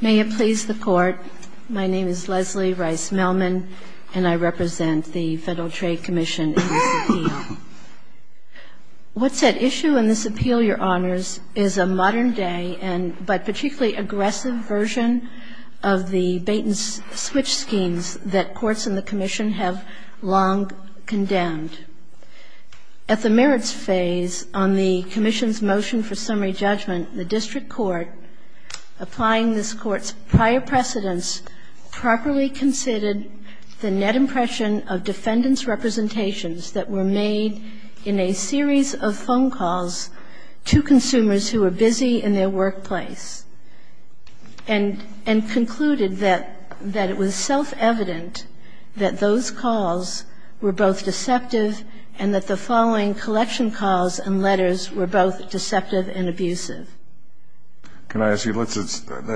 May it please the Court, my name is Leslie Rice-Melman, and I represent the Federal Trade Commission in this appeal. What's at issue in this appeal, Your Honors, is a modern-day but particularly aggressive version of the bait-and-switch schemes that courts in the Commission have long condemned. At the merits phase on the Commission's motion for summary judgment, the District Court, applying this Court's prior precedence, properly considered the net impression of defendants' representations that were made in a series of phone calls to consumers who were busy in their workplace, and concluded that it was self-evident that those calls were both deceptive and that the following collection calls and letters were both deceptive and abusive. Can I ask you, let's assume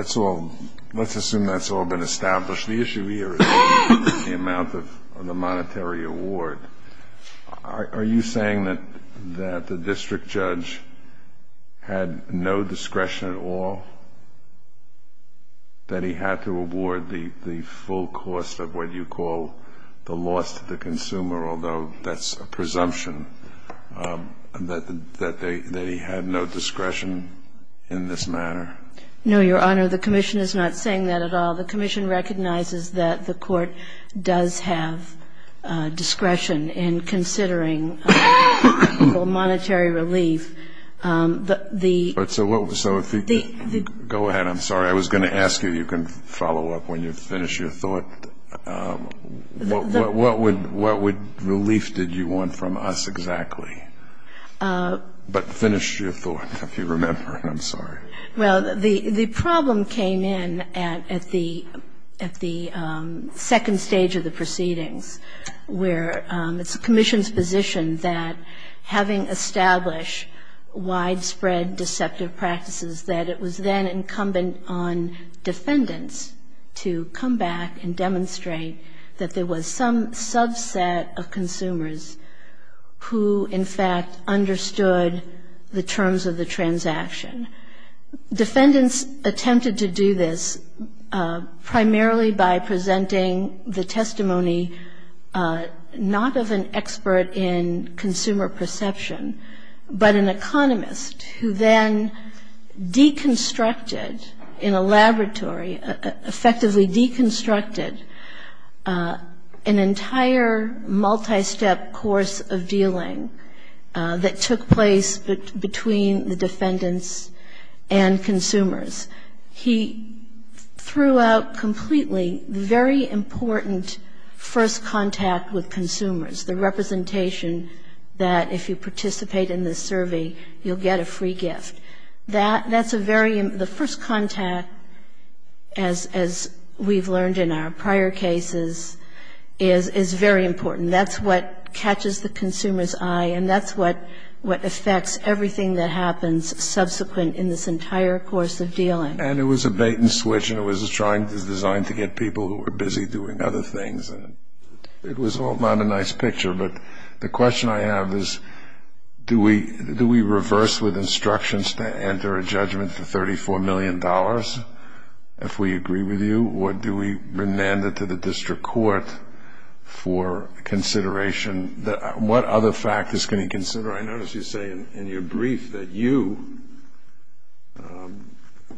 that's all been established. The issue here is the amount of the monetary award. Are you saying that the District Judge had no discretion at all, that he had to award the full cost of what you call the loss to the consumer, although that's a presumption, that he had no discretion in this matter? No, Your Honor. The Commission is not saying that at all. The Commission recognizes that the Court does have discretion in considering the monetary relief. But the the Go ahead. I'm sorry. I was going to ask you. You can follow up when you finish your thought. What relief did you want from us exactly? But finish your thought, if you remember. I'm sorry. Well, the problem came in at the second stage of the proceedings, where it's the Commission's position that having established widespread deceptive practices, that it was then incumbent on defendants to come back and demonstrate that there was some subset of consumers who, in fact, understood the terms of the transaction. Defendants attempted to do this primarily by presenting the testimony not of an expert in consumer perception, but an economist who then deconstructed in a laboratory, effectively deconstructed an entire multi-step course of dealing that took place between the defendants and consumers. He threw out completely the very important first contact with consumers, the representation that if you participate in this survey, you'll get a free gift. That's a very the first contact, as we've learned in our prior cases, is very important. That's what catches the consumer's eye, and that's what affects everything that happens subsequent in this entire course of dealing. And it was a bait and switch, and it was designed to get people who were busy doing other things. It was all not a nice picture, but the question I have is, do we reverse with instructions to enter a judgment for $34 million, if we agree with you, or do we remand it to the district court for consideration? What other factors can you consider? I notice you say in your brief that you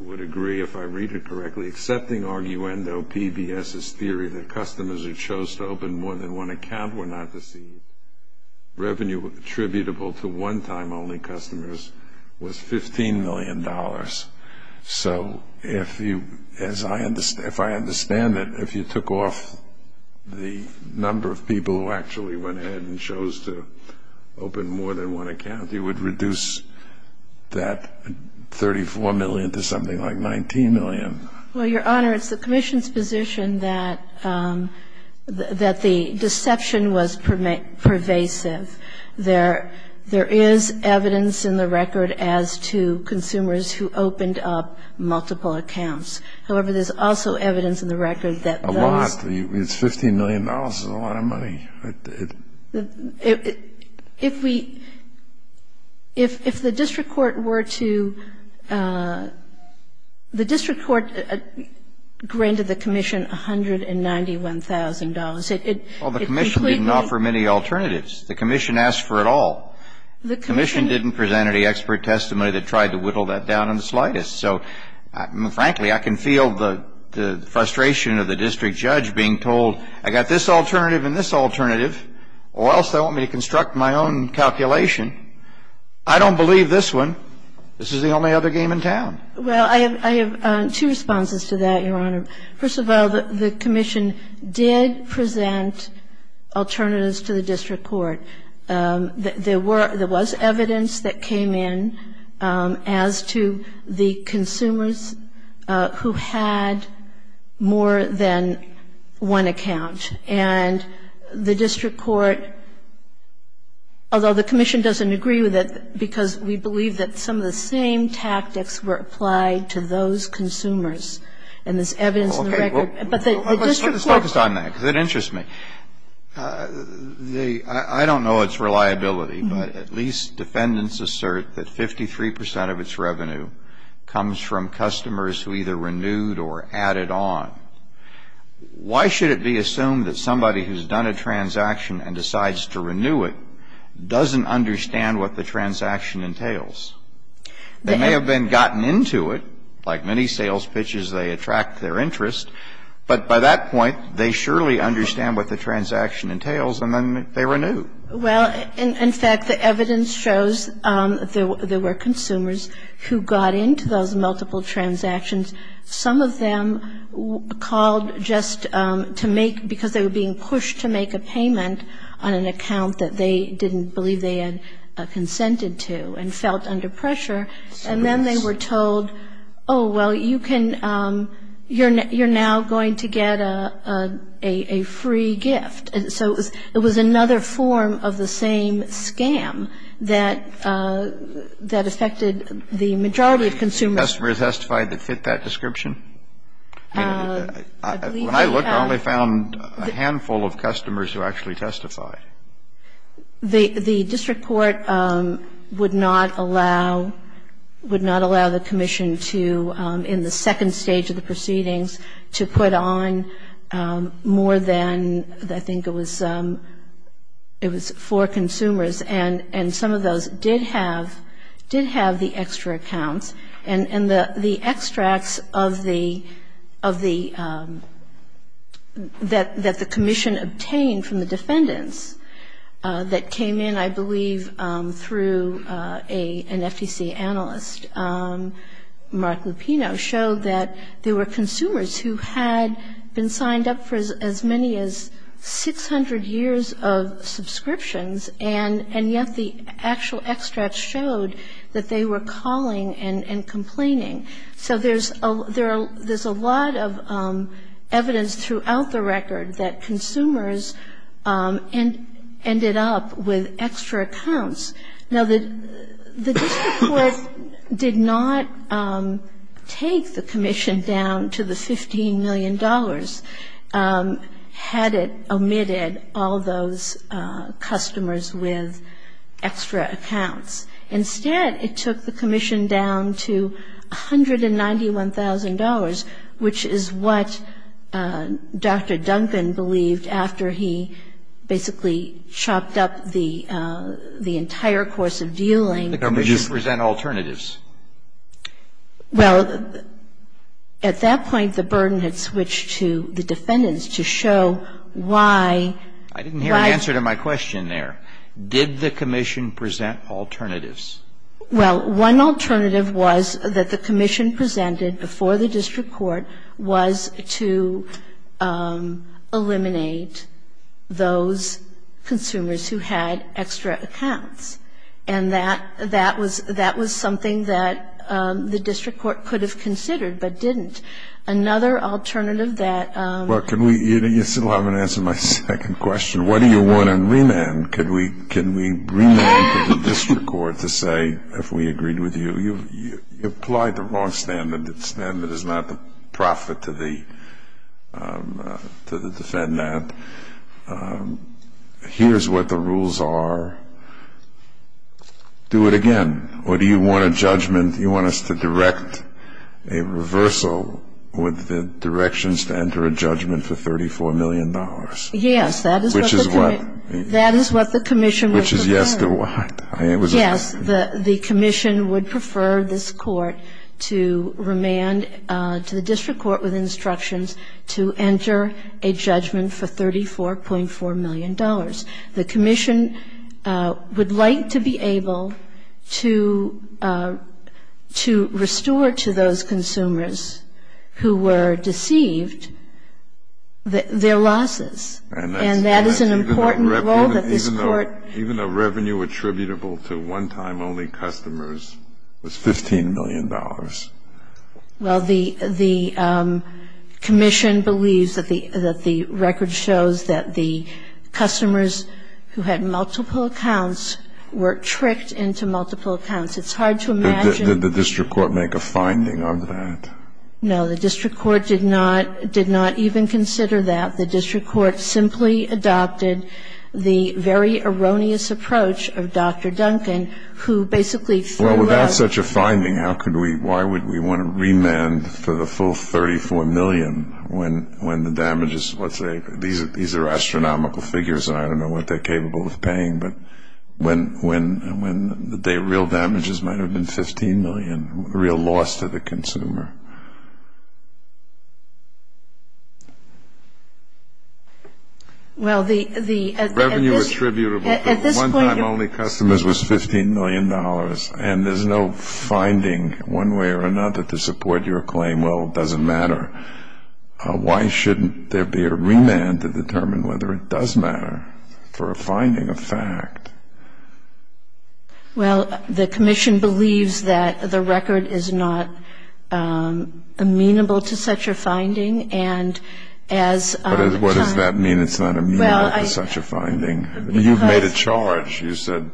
would agree, if I read it correctly, that the accepting arguendo of PBS's theory that customers who chose to open more than one account were not deceived, revenue attributable to one-time only customers was $15 million. So if I understand it, if you took off the number of people who actually went ahead and chose to open more than one account, you would reduce that $34 million to something like $19 million. Well, Your Honor, it's the commission's position that the deception was pervasive. There is evidence in the record as to consumers who opened up multiple accounts. However, there's also evidence in the record that those... A lot. It's $15 million is a lot of money. If we – if the district court were to – the district court granted the commission $191,000, it completely... Well, the commission didn't offer many alternatives. The commission asked for it all. The commission... The commission didn't present any expert testimony that tried to whittle that down in the slightest. So, frankly, I can feel the frustration of the district judge being told, I got this alternative and this alternative, or else they want me to construct my own calculation. I don't believe this one. This is the only other game in town. Well, I have two responses to that, Your Honor. First of all, the commission did present alternatives to the district court. There were – there was evidence that came in as to the consumers who had more than one account. And the district court, although the commission doesn't agree with it because we believe that some of the same tactics were applied to those consumers, and there's evidence in the record... Okay. Well, let's focus on that because it interests me. The – I don't know its reliability, but at least defendants assert that 53 percent of its revenue comes from customers who either renewed or added on. Why should it be assumed that somebody who's done a transaction and decides to renew it doesn't understand what the transaction entails? They may have been gotten into it. Like many sales pitches, they attract their interest. But by that point, they surely understand what the transaction entails, and then they renew. Well, in fact, the evidence shows there were consumers who got into those multiple transactions. Some of them called just to make – because they were being pushed to make a payment on an account that they didn't believe they had consented to and felt under pressure. And then they were told, oh, well, you can – you're now going to get a free gift. And so it was another form of the same scam that affected the majority of consumers. Did the customers testify that fit that description? When I looked, I only found a handful of customers who actually testified. The district court would not allow – would not allow the commission to, in the second stage of the proceedings, to put on more than I think it was – it was four consumers. And some of those did have – did have the extra accounts. And the extracts of the – that the commission obtained from the defendants that came in, I believe, through an FTC analyst, Mark Lupino, showed that there were consumers who had been signed up for as many as 600 years of subscriptions, and yet the actual extracts showed that they were calling and complaining. So there's a lot of evidence throughout the record that consumers ended up with extra accounts. Now, the district court did not take the commission down to the $15 million had it omitted all those customers with extra accounts. Instead, it took the commission down to $191,000, which is what Dr. Duncan believed after he basically chopped up the entire course of dealing. The commission present alternatives. Well, at that point, the burden had switched to the defendants to show why – I didn't hear an answer to my question there. Did the commission present alternatives? Well, one alternative was that the commission presented before the district court was to eliminate those consumers who had extra accounts. And that was something that the district court could have considered but didn't. Another alternative that – Well, can we – you still haven't answered my second question. What do you want in remand? Can we remand to the district court to say, if we agreed with you, you've applied the wrong standard that standard is not the profit to the defendant. Here's what the rules are. Do it again. Or do you want a judgment – you want us to direct a reversal with the directions to enter a judgment for $34 million? Yes, that is what the commission would prefer. Which is yes to what? Yes, the commission would prefer this court to remand to the district court with instructions to enter a judgment for $34.4 million. The commission would like to be able to restore to those consumers who were deceived their losses. And that is an important role that this court – Even though revenue attributable to one-time only customers was $15 million. Well, the commission believes that the record shows that the customers who had multiple accounts were tricked into multiple accounts. It's hard to imagine – Did the district court make a finding of that? No, the district court did not even consider that. The district court simply adopted the very erroneous approach of Dr. Duncan, who basically threw out – Well, without such a finding, how could we – why would we want to remand for the full $34 million when the damages – let's say these are astronomical figures, and I don't know what they're capable of paying, but when the real damages might have been $15 million, real loss to the consumer. Well, the – Revenue attributable to one-time only customers was $15 million. And there's no finding, one way or another, to support your claim, well, it doesn't matter. Why shouldn't there be a remand to determine whether it does matter for a finding of fact? Well, the commission believes that the record is not amenable to such a finding, and as – What does that mean, it's not amenable to such a finding? You've made a charge. You said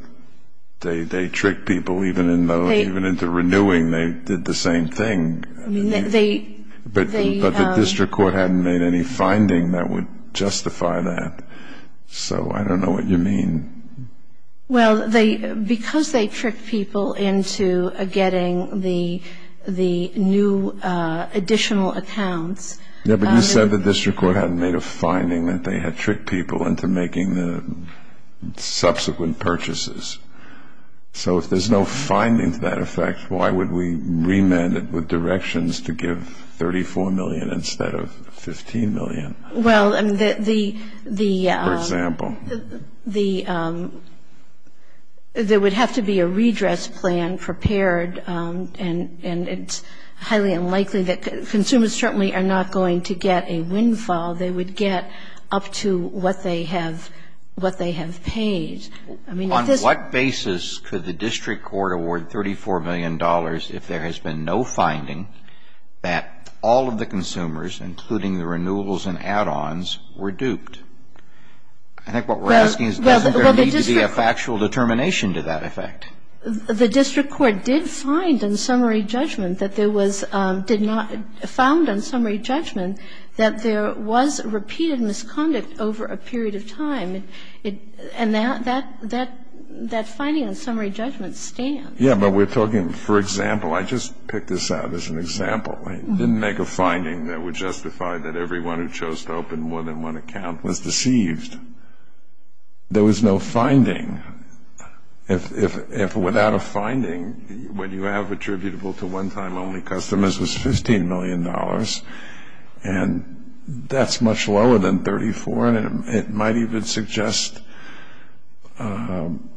they tricked people even into renewing, they did the same thing. I mean, they – But the district court hadn't made any finding that would justify that. So I don't know what you mean. Well, they – because they tricked people into getting the new additional accounts – subsequent purchases. So if there's no finding to that effect, why would we remand it with directions to give $34 million instead of $15 million? Well, I mean, the – For example. The – there would have to be a redress plan prepared, and it's highly unlikely that – consumers certainly are not going to get a windfall. They would get up to what they have – what they have paid. I mean, if this – On what basis could the district court award $34 million if there has been no finding that all of the consumers, including the renewables and add-ons, were duped? I think what we're asking is doesn't there need to be a factual determination to that effect? The district court did find in summary judgment that there was – did not – there was repeated misconduct over a period of time, and that finding in summary judgment stands. Yeah, but we're talking – for example, I just picked this out as an example. I didn't make a finding that would justify that everyone who chose to open more than one account was deceived. There was no finding. If without a finding, what you have attributable to one-time only customers was $15 million, and that's much lower than 34, and it might even suggest an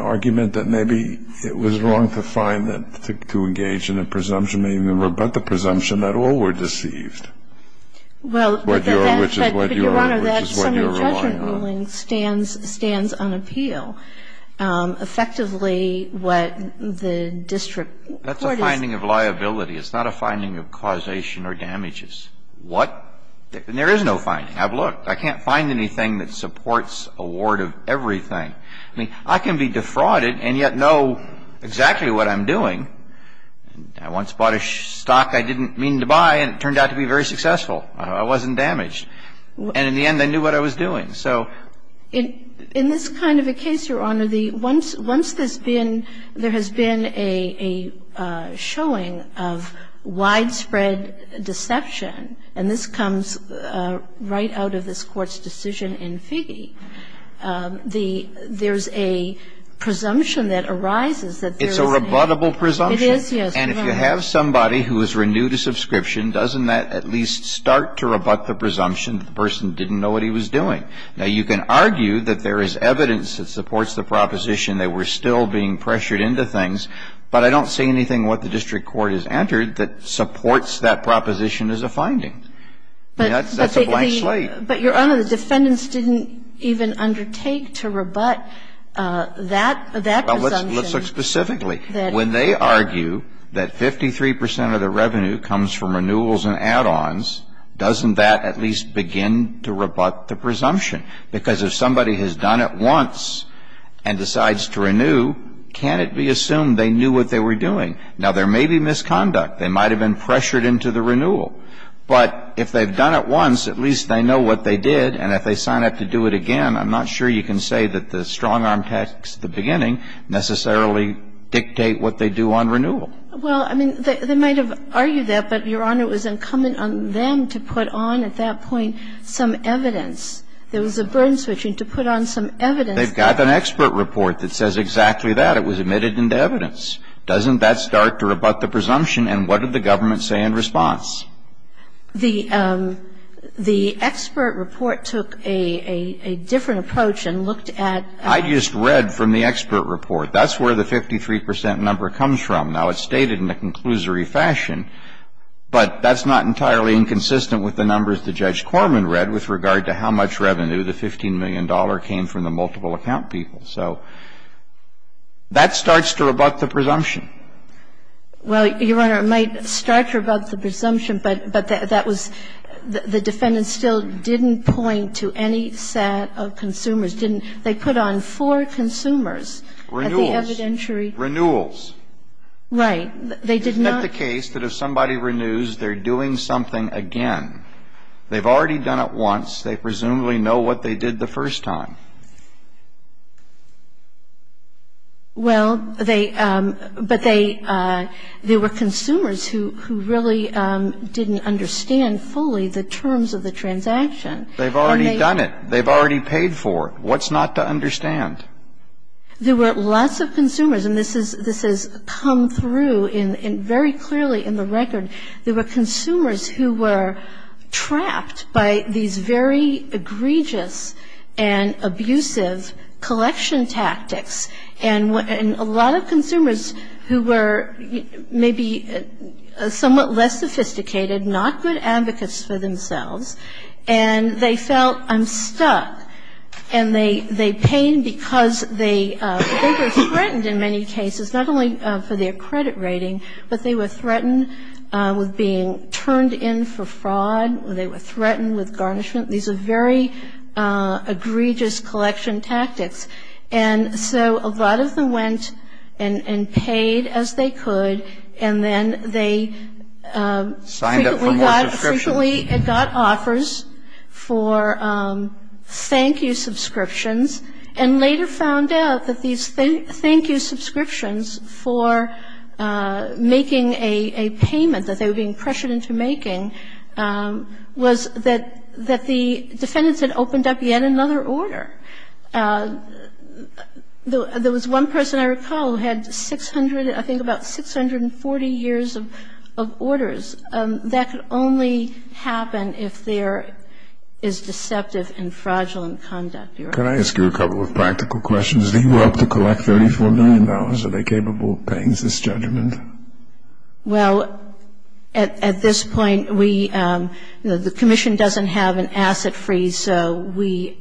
argument that maybe it was wrong to find that – to engage in a presumption, but the presumption that all were deceived. Well, but that's – What you're – which is what you're relying on. But, Your Honor, that summary judgment ruling stands – stands on appeal. Effectively, what the district court is – That's a finding of liability. It's not a finding of causation or damages. What – and there is no finding. Have a look. I can't find anything that supports award of everything. I mean, I can be defrauded and yet know exactly what I'm doing. I once bought a stock I didn't mean to buy, and it turned out to be very successful. I wasn't damaged. And in the end, they knew what I was doing. In this kind of a case, Your Honor, the – once there's been – there has been a showing of widespread deception, and this comes right out of this Court's decision in Figge, the – there's a presumption that arises that there is a – It's a rebuttable presumption. It is, yes. And if you have somebody who is renewed a subscription, doesn't that at least start to rebut the presumption that the person didn't know what he was doing? Now, you can argue that there is evidence that supports the proposition that we're still being pressured into things, but I don't see anything what the district court has entered that supports that proposition as a finding. I mean, that's a blank slate. But Your Honor, the defendants didn't even undertake to rebut that presumption. Let's look specifically. When they argue that 53 percent of the revenue comes from renewals and add-ons, doesn't that at least begin to rebut the presumption? Because if somebody has done it once and decides to renew, can it be assumed they knew what they were doing? Now, there may be misconduct. They might have been pressured into the renewal. But if they've done it once, at least they know what they did, and if they sign up to do it again, I'm not sure you can say that the strong-arm tactics at the beginning necessarily dictate what they do on renewal. Well, I mean, they might have argued that, but, Your Honor, it was incumbent on them to put on at that point some evidence. There was a burn switching to put on some evidence. They've got an expert report that says exactly that. It was admitted into evidence. Doesn't that start to rebut the presumption? And what did the government say in response? The expert report took a different approach and looked at the 53 percent number. I just read from the expert report. That's where the 53 percent number comes from. Now, it's stated in a conclusory fashion, but that's not entirely inconsistent with the numbers that Judge Corman read with regard to how much revenue, the $15 million, came from the multiple account people. So that starts to rebut the presumption. Well, Your Honor, it might start to rebut the presumption, but that was the defendant still didn't point to any set of consumers, didn't they put on four consumers at the evidentiary? Renewals. Renewals. Right. They did not. Isn't that the case that if somebody renews, they're doing something again? They've already done it once. They presumably know what they did the first time. Well, they – but they – there were consumers who really didn't understand fully the terms of the transaction. They've already done it. They've already paid for it. What's not to understand? There were lots of consumers, and this is – this has come through very clearly in the record. There were consumers who were trapped by these very egregious and abusive collection tactics. And a lot of consumers who were maybe somewhat less sophisticated, not good advocates for themselves, and they felt, I'm stuck. And they paid because they were threatened in many cases, not only for their credit rating, but they were threatened with being turned in for fraud. They were threatened with garnishment. These are very egregious collection tactics. And so a lot of them went and paid as they could, and then they – Signed up for more subscriptions. Unfortunately, it got offers for thank-you subscriptions and later found out that these thank-you subscriptions for making a payment that they were being pressured into making was that the defendants had opened up yet another order. There was one person I recall who had 600 – I think about 640 years of orders. That could only happen if there is deceptive and fraudulent conduct. Could I ask you a couple of practical questions? Do you have to collect $34 million? Are they capable of paying this judgment? Well, at this point, we – the commission doesn't have an asset freeze, so we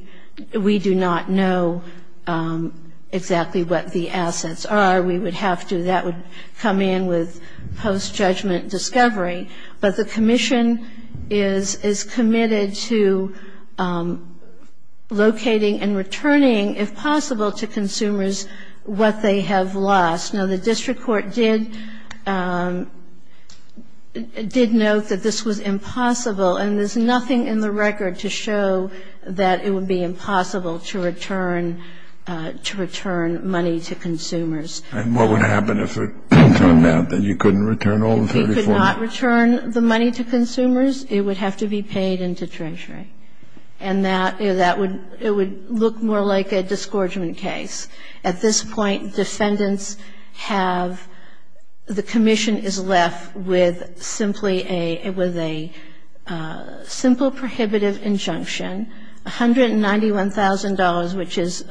do not know exactly what the assets are. We would have to – that would come in with post-judgment discovery. But the commission is committed to locating and returning, if possible, to consumers what they have lost. Now, the district court did note that this was impossible, and there's nothing in the record to show that it would be impossible to return money to consumers. And what would happen if it turned out that you couldn't return all the $34 million? If you could not return the money to consumers, it would have to be paid into Treasury. And that would – it would look more like a disgorgement case. At this point, defendants have – the commission is left with simply a – with a simple prohibitive injunction, $191,000, which is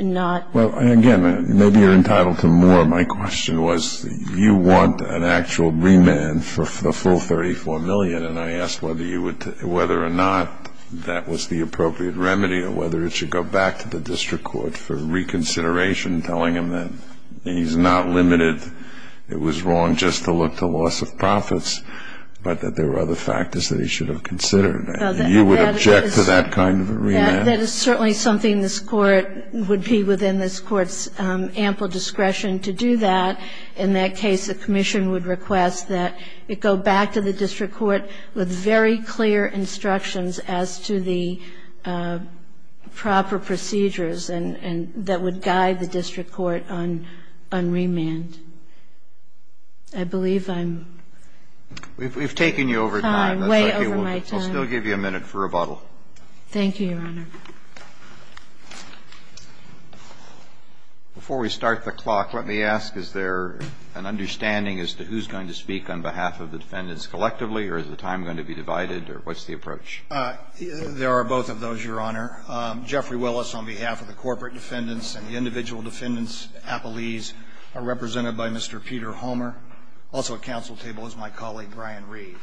not – Well, again, maybe you're entitled to more. My question was, you want an actual remand for the full $34 million, and I asked whether you would – whether or not that was the appropriate remedy or whether it should go back to the district court for reconsideration, telling him that he's not limited – it was wrong just to look to loss of profits, but that there were other factors that he should have considered. You would object to that kind of a remand? That is certainly something this court would be within this court's ample discretion to do that. In that case, the commission would request that it go back to the district court with very clear instructions as to the proper procedures and – that would guide the district court on remand. I believe I'm – We've taken you over time. I'm way over my time. I'll still give you a minute for rebuttal. Thank you, Your Honor. Before we start the clock, let me ask, is there an understanding as to who's going to speak on behalf of the defendants collectively, or is the time going to be divided, or what's the approach? There are both of those, Your Honor. Jeffrey Willis on behalf of the corporate defendants and the individual defendants appellees are represented by Mr. Peter Homer. Also at council table is my colleague Brian Reed.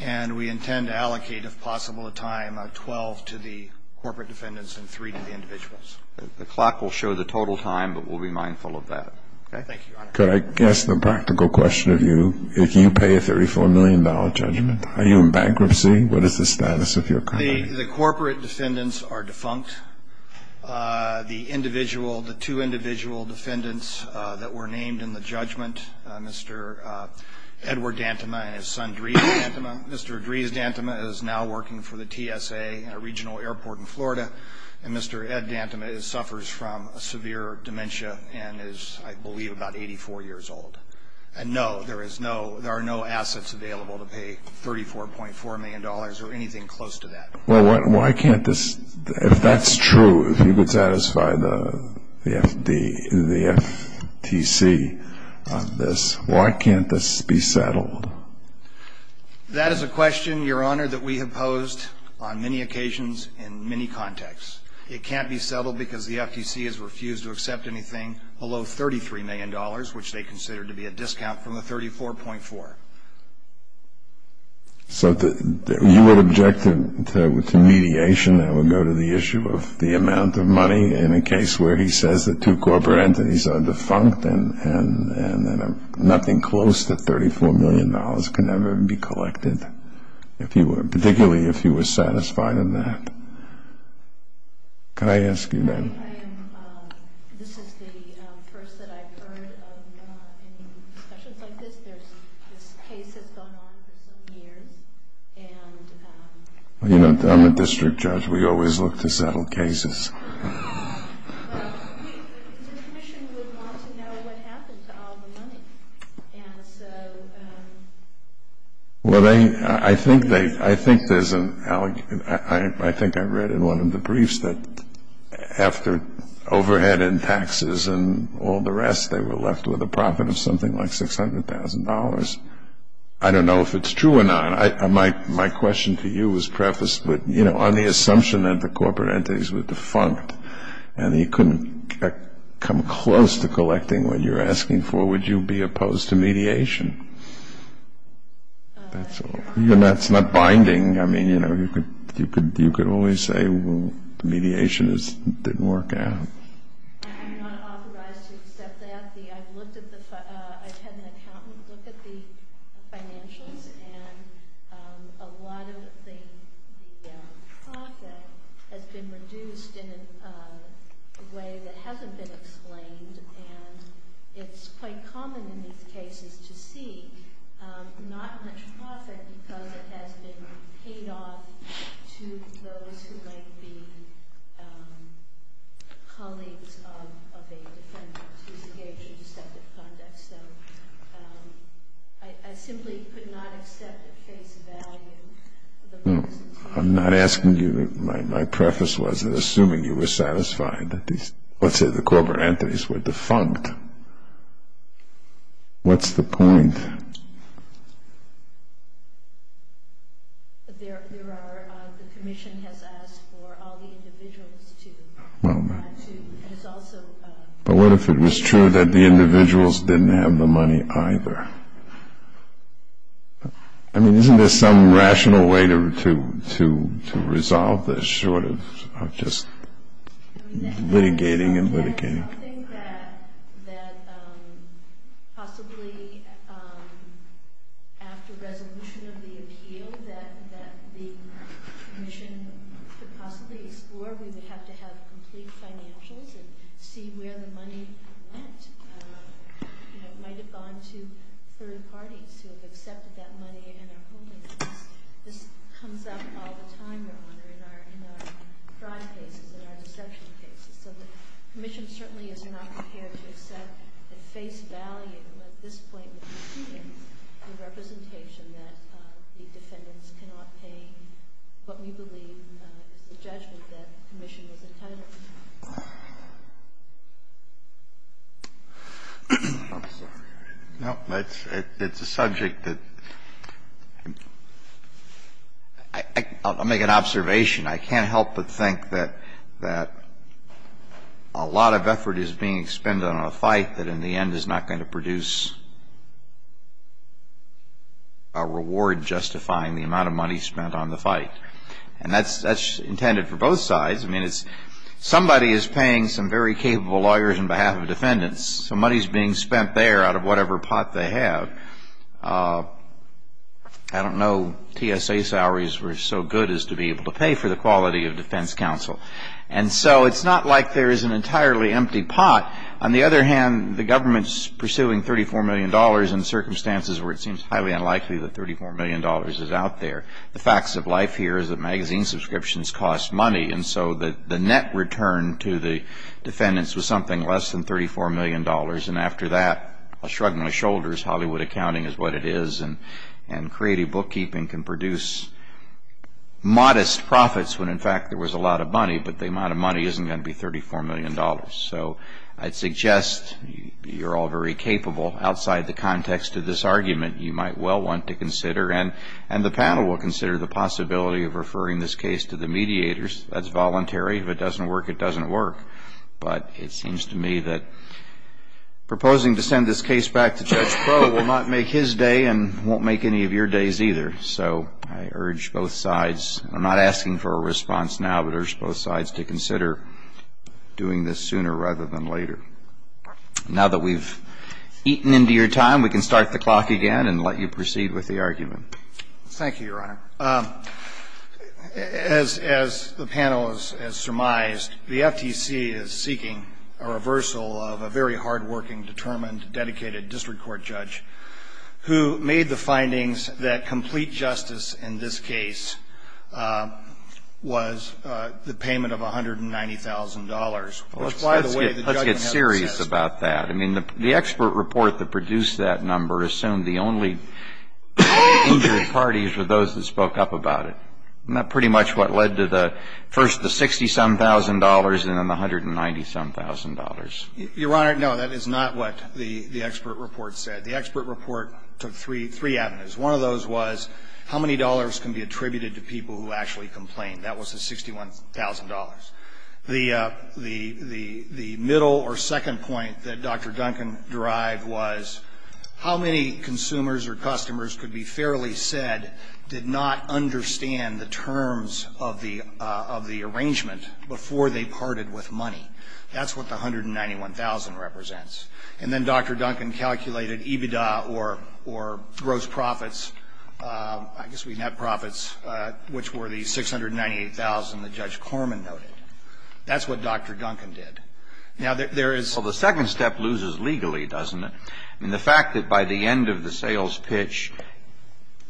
And we intend to allocate, if possible, a time of 12 to the corporate defendants and 3 to the individuals. The clock will show the total time, but we'll be mindful of that. Thank you, Your Honor. Could I ask the practical question of you? If you pay a $34 million judgment, are you in bankruptcy? What is the status of your company? The corporate defendants are defunct. The individual – the two individual defendants that were named in the judgment, Mr. Edward Dantema and his son, Dries Dantema. Mr. Dries Dantema is now working for the TSA in a regional airport in Florida. And Mr. Ed Dantema suffers from a severe dementia and is, I believe, about 84 years old. And, no, there is no – there are no assets available to pay $34.4 million or anything close to that. Well, why can't this – if that's true, if you could satisfy the FTC on this, why can't this be settled? That is a question, Your Honor, that we have posed on many occasions in many contexts. It can't be settled because the FTC has refused to accept anything below $33 million, which they consider to be a discount from the $34.4. So you would object to mediation that would go to the issue of the amount of money in a case where he says the two corporate entities are defunct and that nothing close to $34 million can ever be collected, particularly if he was satisfied in that. Can I ask you, then? I am – this is the first that I've heard of any discussions like this. This case has gone on for some years, and – You know, I'm a district judge. We always look to settle cases. Well, the Commission would want to know what happened to all the money, and so – Well, they – I think they – I think there's an – I think I read in one of the briefs that after overhead and taxes and all the rest, they were left with a profit of something like $600,000. I don't know if it's true or not. On the assumption that the corporate entities were defunct and that you couldn't come close to collecting what you're asking for, would you be opposed to mediation? That's all. That's not binding. I mean, you know, you could only say, well, mediation didn't work out. I'm not authorized to accept that. I've looked at the – I've had an accountant look at the financials, and a lot of the profit has been reduced in a way that hasn't been explained, and it's quite common in these cases to see not much profit because it has been paid off to those who might be colleagues of a defendant who's engaged in deceptive conduct. So I simply could not accept the case value. I'm not asking you – my preface was assuming you were satisfied that these – let's say the corporate entities were defunct. What's the point? There are – the commission has asked for all the individuals to – But what if it was true that the individuals didn't have the money either? I mean, isn't there some rational way to resolve this, short of just litigating and litigating? I mean, that's something that possibly after resolution of the appeal that the commission could possibly explore. Or we would have to have complete financials and see where the money went. It might have gone to third parties who have accepted that money and are holding it. This comes up all the time, Your Honor, in our crime cases and our deception cases. So the commission certainly is not prepared to accept at face value at this point in the proceedings the representation that the defendants cannot pay what we believe is the judgment that the commission was entitled to. I'm sorry. No, it's a subject that – I'll make an observation. I can't help but think that a lot of effort is being spent on a fight that in the end is not going to produce a reward justifying the amount of money spent on the fight. And that's intended for both sides. I mean, somebody is paying some very capable lawyers on behalf of defendants. Some money is being spent there out of whatever pot they have. I don't know TSA salaries were so good as to be able to pay for the quality of defense counsel. And so it's not like there is an entirely empty pot. On the other hand, the government is pursuing $34 million in circumstances where it seems highly unlikely that $34 million is out there. The facts of life here is that magazine subscriptions cost money. And so the net return to the defendants was something less than $34 million. And after that, I'll shrug my shoulders, Hollywood accounting is what it is. And creative bookkeeping can produce modest profits when, in fact, there was a lot of money. But the amount of money isn't going to be $34 million. So I'd suggest you're all very capable outside the context of this argument. You might well want to consider, and the panel will consider, the possibility of referring this case to the mediators. That's voluntary. If it doesn't work, it doesn't work. But it seems to me that proposing to send this case back to Judge Crowe will not make his day and won't make any of your days either. So I urge both sides. I'm not asking for a response now, but I urge both sides to consider doing this sooner rather than later. Now that we've eaten into your time, we can start the clock again and let you proceed with the argument. Thank you, Your Honor. As the panel has surmised, the FTC is seeking a reversal of a very hardworking, determined, dedicated district court judge who made the findings that complete justice in this case was the payment of $190,000, which, by the way, the judgment hasn't assessed. Let's get serious about that. I mean, the expert report that produced that number assumed the only injured parties were those that spoke up about it. Isn't that pretty much what led to the first the $60-some-thousand and then the $190-some-thousand? Your Honor, no. That is not what the expert report said. The expert report took three avenues. One of those was how many dollars can be attributed to people who actually complained. That was the $61,000. The middle or second point that Dr. Duncan derived was how many consumers or customers could be fairly said did not understand the terms of the arrangement before they parted with money. That's what the $191,000 represents. And then Dr. Duncan calculated EBITDA or gross profits, I guess we net profits, which were the $698,000 that Judge Corman noted. That's what Dr. Duncan did. Now, there is the second step loses legally, doesn't it? I mean, the fact that by the end of the sales pitch,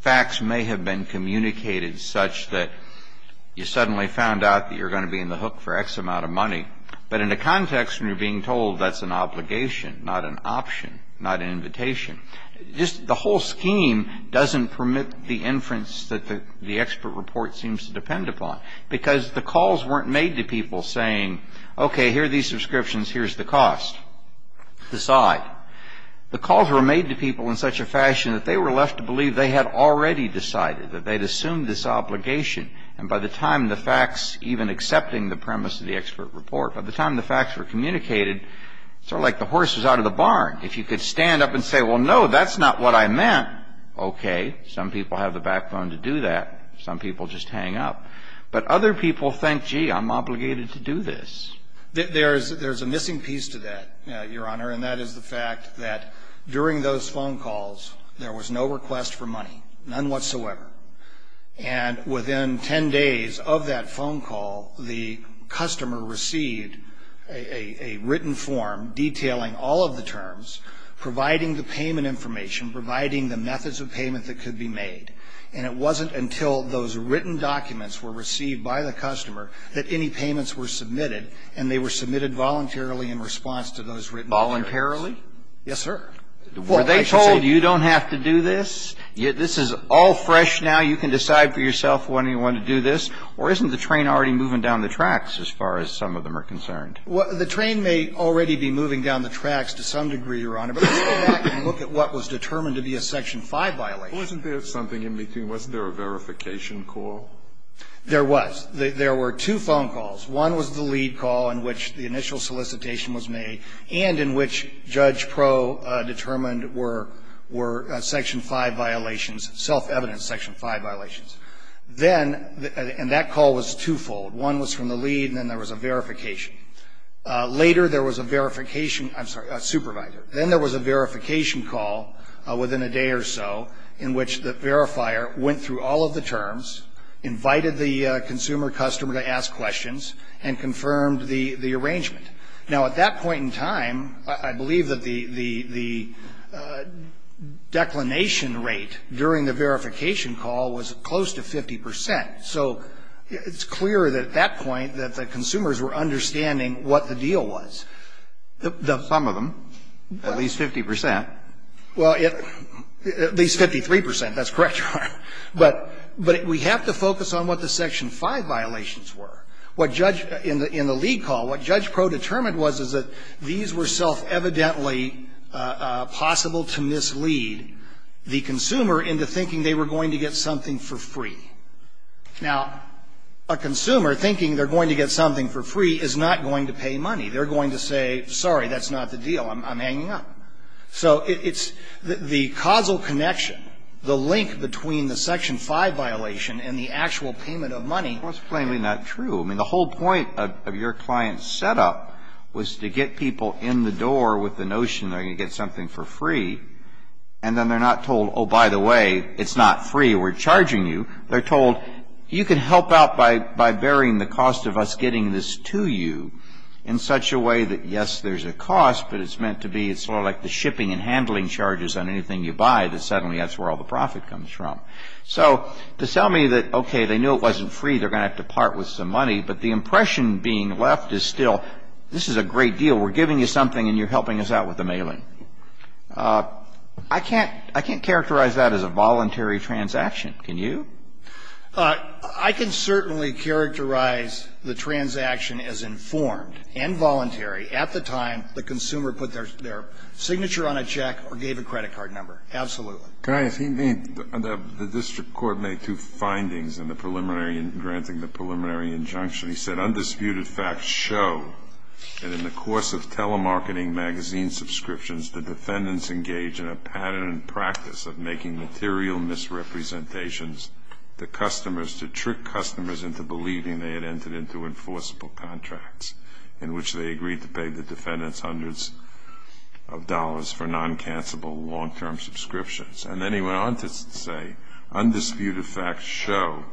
facts may have been communicated such that you suddenly found out that you're going to be in the hook for X amount of money. But in a context when you're being told that's an obligation, not an option, not an invitation, just the whole scheme doesn't permit the inference that the expert report seems to depend upon because the calls weren't made to people saying, okay, here are these subscriptions, here's the cost. Decide. The calls were made to people in such a fashion that they were left to believe they had already decided, that they'd assumed this obligation. And by the time the facts, even accepting the premise of the expert report, by the time the facts were communicated, it's sort of like the horse is out of the barn. If you could stand up and say, well, no, that's not what I meant, okay. Some people have the backbone to do that. Some people just hang up. But other people think, gee, I'm obligated to do this. There's a missing piece to that, Your Honor, and that is the fact that during those phone calls, there was no request for money, none whatsoever. And within ten days of that phone call, the customer received a written form detailing all of the terms, providing the payment information, providing the methods of payment that could be made. And it wasn't until those written documents were received by the customer that any payments were submitted, and they were submitted voluntarily in response to those written orders. Voluntarily? Yes, sir. Were they told, you don't have to do this? This is all fresh now. You can decide for yourself when you want to do this. Or isn't the train already moving down the tracks as far as some of them are concerned? The train may already be moving down the tracks to some degree, Your Honor. But let's go back and look at what was determined to be a Section 5 violation. Wasn't there something in between? Wasn't there a verification call? There was. There were two phone calls. One was the lead call in which the initial solicitation was made and in which Judge Pro determined were Section 5 violations, self-evident Section 5 violations. Then, and that call was twofold. One was from the lead and then there was a verification. Later there was a verification, I'm sorry, a supervisor. Then there was a verification call within a day or so in which the verifier went through all of the terms, invited the consumer customer to ask questions, and confirmed the arrangement. Now, at that point in time, I believe that the declination rate during the verification call was close to 50 percent. So it's clear that at that point that the consumers were understanding what the deal was. Some of them, at least 50 percent. Well, at least 53 percent. That's correct, Your Honor. But we have to focus on what the Section 5 violations were. What Judge, in the lead call, what Judge Pro determined was is that these were self-evidently possible to mislead the consumer into thinking they were going to get something for free. Now, a consumer thinking they're going to get something for free is not going to pay money. They're going to say, sorry, that's not the deal. I'm hanging up. So it's the causal connection, the link between the Section 5 violation and the actual payment of money. Well, it's plainly not true. I mean, the whole point of your client's setup was to get people in the door with the notion they're going to get something for free. And then they're not told, oh, by the way, it's not free. We're charging you. They're told, you can help out by bearing the cost of us getting this to you in such a way that, yes, there's a cost, but it's meant to be sort of like the shipping and handling charges on anything you buy that suddenly that's where all the profit comes from. So to tell me that, okay, they knew it wasn't free, they're going to have to part with some money, but the impression being left is still, this is a great deal. We're giving you something and you're helping us out with the mailing. I can't characterize that as a voluntary transaction. Can you? I can certainly characterize the transaction as informed and voluntary at the time the consumer put their signature on a check or gave a credit card number. Absolutely. The district court made two findings in granting the preliminary injunction. He said, undisputed facts show that in the course of telemarketing magazine subscriptions, the defendants engaged in a pattern and practice of making material misrepresentations to customers to trick customers into believing they had entered into enforceable contracts in which they agreed to pay the defendants hundreds of dollars for non-cancellable long-term subscriptions. And then he went on to say, undisputed facts show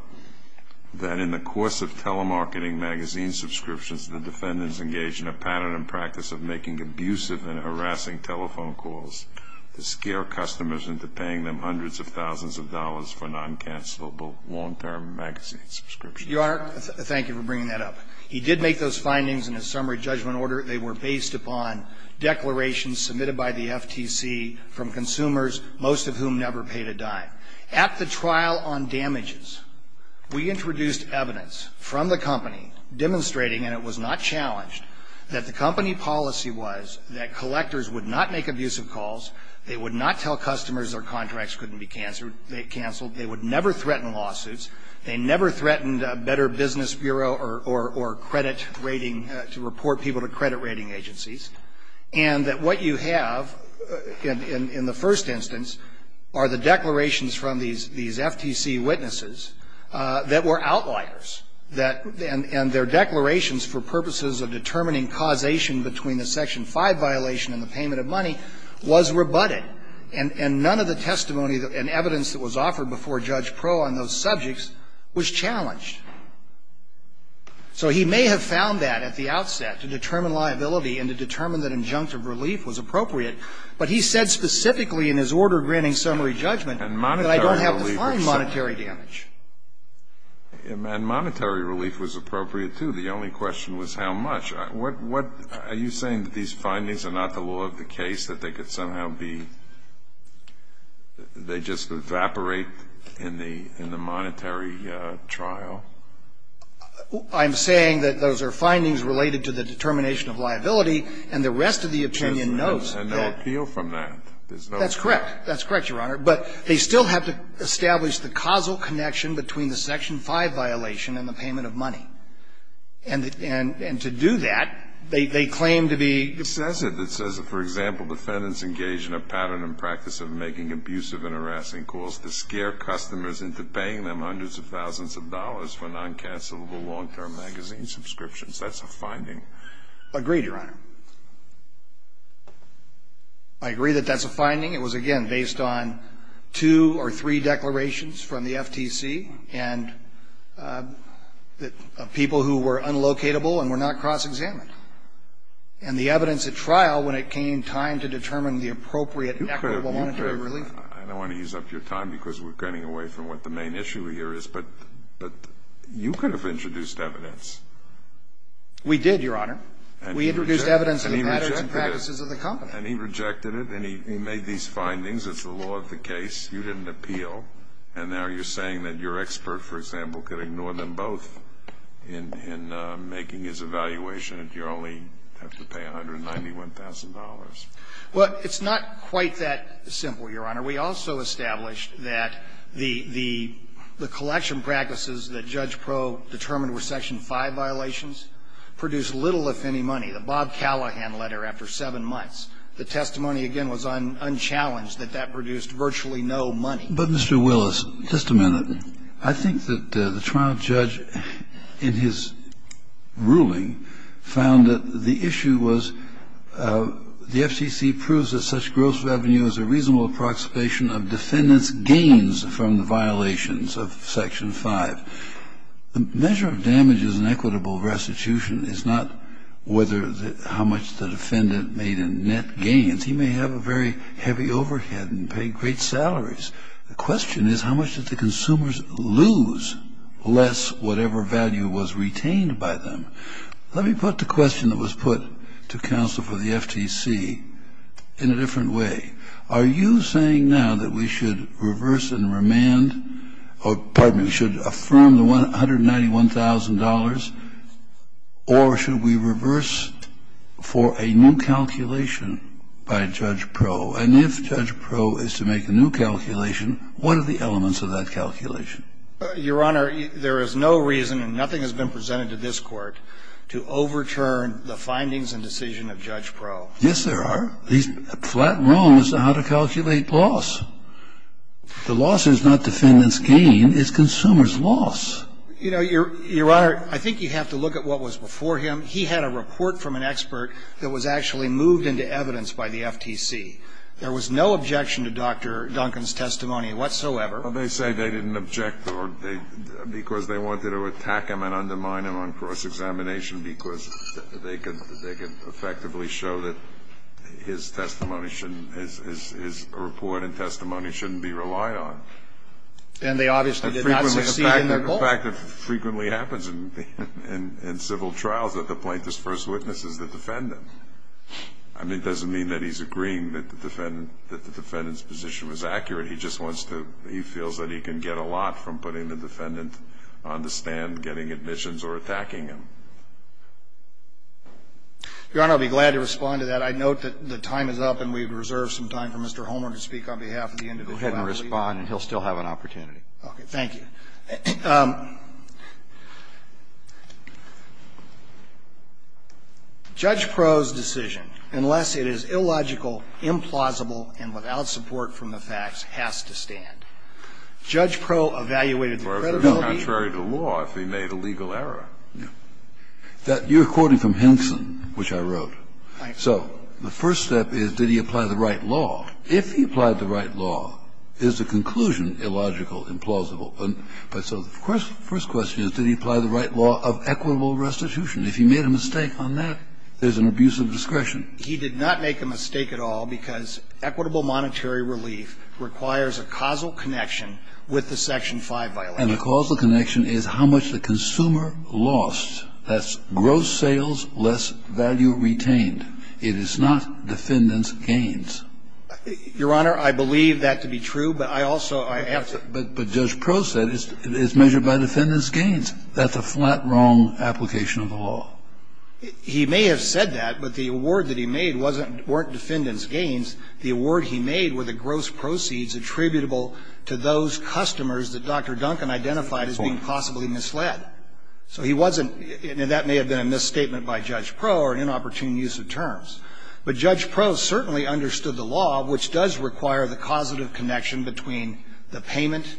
that in the course of telemarketing magazine subscriptions, the defendants engaged in a pattern and practice of making abusive and harassing telephone calls to scare customers into paying them hundreds of thousands of dollars for non-cancellable long-term magazine subscriptions. Your Honor, thank you for bringing that up. He did make those findings in a summary judgment order. They were based upon declarations submitted by the FTC from consumers, most of whom never paid a dime. At the trial on damages, we introduced evidence from the company demonstrating, and it was not challenged, that the company policy was that collectors would not make abusive calls. They would not tell customers their contracts couldn't be canceled. They would never threaten lawsuits. They never threatened Better Business Bureau or credit rating, to report people to credit rating agencies. And that what you have in the first instance are the declarations from these FTC witnesses that were outliers, and their declarations for purposes of determining causation between the Section 5 violation and the payment of money was rebutted. And none of the testimony and evidence that was offered before Judge Proh on those subjects was challenged. So he may have found that at the outset to determine liability and to determine that injunctive relief was appropriate, but he said specifically in his order granting summary judgment that I don't have defined monetary damage. And monetary relief was appropriate, too. The only question was how much. Are you saying that these findings are not the law of the case, that they could somehow be they just evaporate in the monetary trial? I'm saying that those are findings related to the determination of liability, and the rest of the opinion knows that. And no appeal from that. That's correct. That's correct, Your Honor. But they still have to establish the causal connection between the Section 5 violation and the payment of money. And to do that, they claim to be It says it. It says that, for example, defendants engage in a pattern and practice of making abusive and harassing calls to scare customers into paying them hundreds of thousands of dollars for non-cancellable long-term magazine subscriptions. That's a finding. Agreed, Your Honor. I agree that that's a finding. It was, again, based on two or three declarations from the FTC, and that, of course, people who were unlocatable and were not cross-examined. And the evidence at trial, when it came time to determine the appropriate equitable monetary relief. I don't want to use up your time because we're getting away from what the main issue here is, but you could have introduced evidence. We did, Your Honor. We introduced evidence of the patterns and practices of the company. And he rejected it, and he made these findings. It's the law of the case. You didn't appeal. And now you're saying that your expert, for example, could ignore them both in making his evaluation that you only have to pay $191,000. Well, it's not quite that simple, Your Honor. We also established that the collection practices that Judge Proe determined were Section 5 violations produced little, if any, money. The Bob Callahan letter, after 7 months, the testimony, again, was unchallenged, that that produced virtually no money. But, Mr. Willis, just a minute. I think that the trial judge, in his ruling, found that the issue was the FCC proves that such gross revenue is a reasonable approximation of defendants' gains from the violations of Section 5. The measure of damages in equitable restitution is not how much the defendant made in net gains. He may have a very heavy overhead and pay great salaries. The question is, how much did the consumers lose less whatever value was retained by them? Let me put the question that was put to counsel for the FTC in a different way. Are you saying now that we should reverse and remand or, pardon me, we should affirm the $191,000, or should we reverse for a new calculation by Judge Proe? And if Judge Proe is to make a new calculation, what are the elements of that calculation? Your Honor, there is no reason, and nothing has been presented to this Court, to overturn the findings and decision of Judge Proe. Yes, there are. He's flat wrong as to how to calculate loss. The loss is not defendants' gain. It's consumers' loss. You know, Your Honor, I think you have to look at what was before him. He had a report from an expert that was actually moved into evidence by the FTC. There was no objection to Dr. Duncan's testimony whatsoever. Well, they say they didn't object because they wanted to attack him and undermine him on cross-examination because they could effectively show that his testimony shouldn't be relied on. And they obviously did not succeed in their goal. The fact that it frequently happens in civil trials that the plaintiff's first witness is the defendant. I mean, it doesn't mean that he's agreeing that the defendant's position was accurate. He just wants to he feels that he can get a lot from putting the defendant on the stand getting admissions or attacking him. Your Honor, I'll be glad to respond to that. I note that the time is up and we have reserved some time for Mr. Homer to speak on behalf of the individual. Go ahead and respond and he'll still have an opportunity. Okay. Thank you. Judge Proh's decision, unless it is illogical, implausible, and without support from the facts, has to stand. Judge Proh evaluated the credibility. No, contrary to law, if he made a legal error. You're quoting from Henson, which I wrote. So the first step is, did he apply the right law? If he applied the right law, is the conclusion illogical, implausible? So the first question is, did he apply the right law of equitable restitution? If he made a mistake on that, there's an abuse of discretion. He did not make a mistake at all because equitable monetary relief requires a causal connection with the Section 5 violation. And the causal connection is how much the consumer lost. He did not make a mistake at all because equitable monetary relief requires a causal If he made a mistake on that, there's an abuse of discretion. That's gross sales, less value retained. It is not defendant's gains. Your Honor, I believe that to be true, but I also have to. And that may have been a misstatement by Judge Proh or an inopportune use of terms. But Judge Proh certainly understood the law, which does require the causative connection between the payment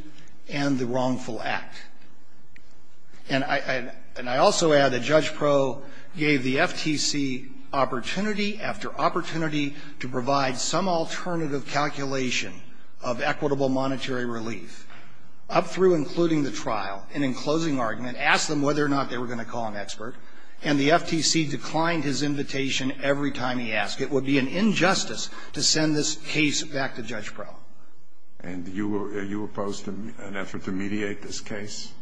and the wrongful act. And I also add that Judge Proh gave the FTC opportunity after opportunity to provide some alternative calculation of equitable monetary relief, up through And the FTC declined his invitation every time he asked. It would be an injustice to send this case back to Judge Proh. And are you opposed to an effort to mediate this case?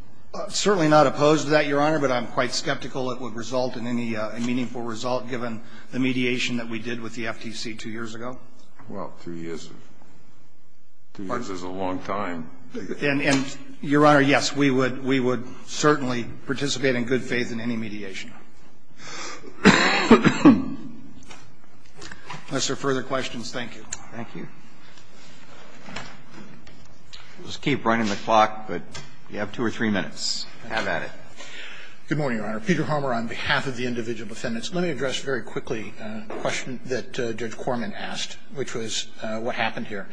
Certainly not opposed to that, Your Honor, but I'm quite skeptical it would result in any meaningful result given the mediation that we did with the FTC two years Well, two years is a long time. And, Your Honor, yes, we would certainly participate in good faith in any mediation. Unless there are further questions, thank you. Thank you. We'll just keep running the clock, but you have two or three minutes. Have at it. Good morning, Your Honor. Peter Homer on behalf of the individual defendants. Let me address very quickly a question that Judge Corman asked, which was what happened here.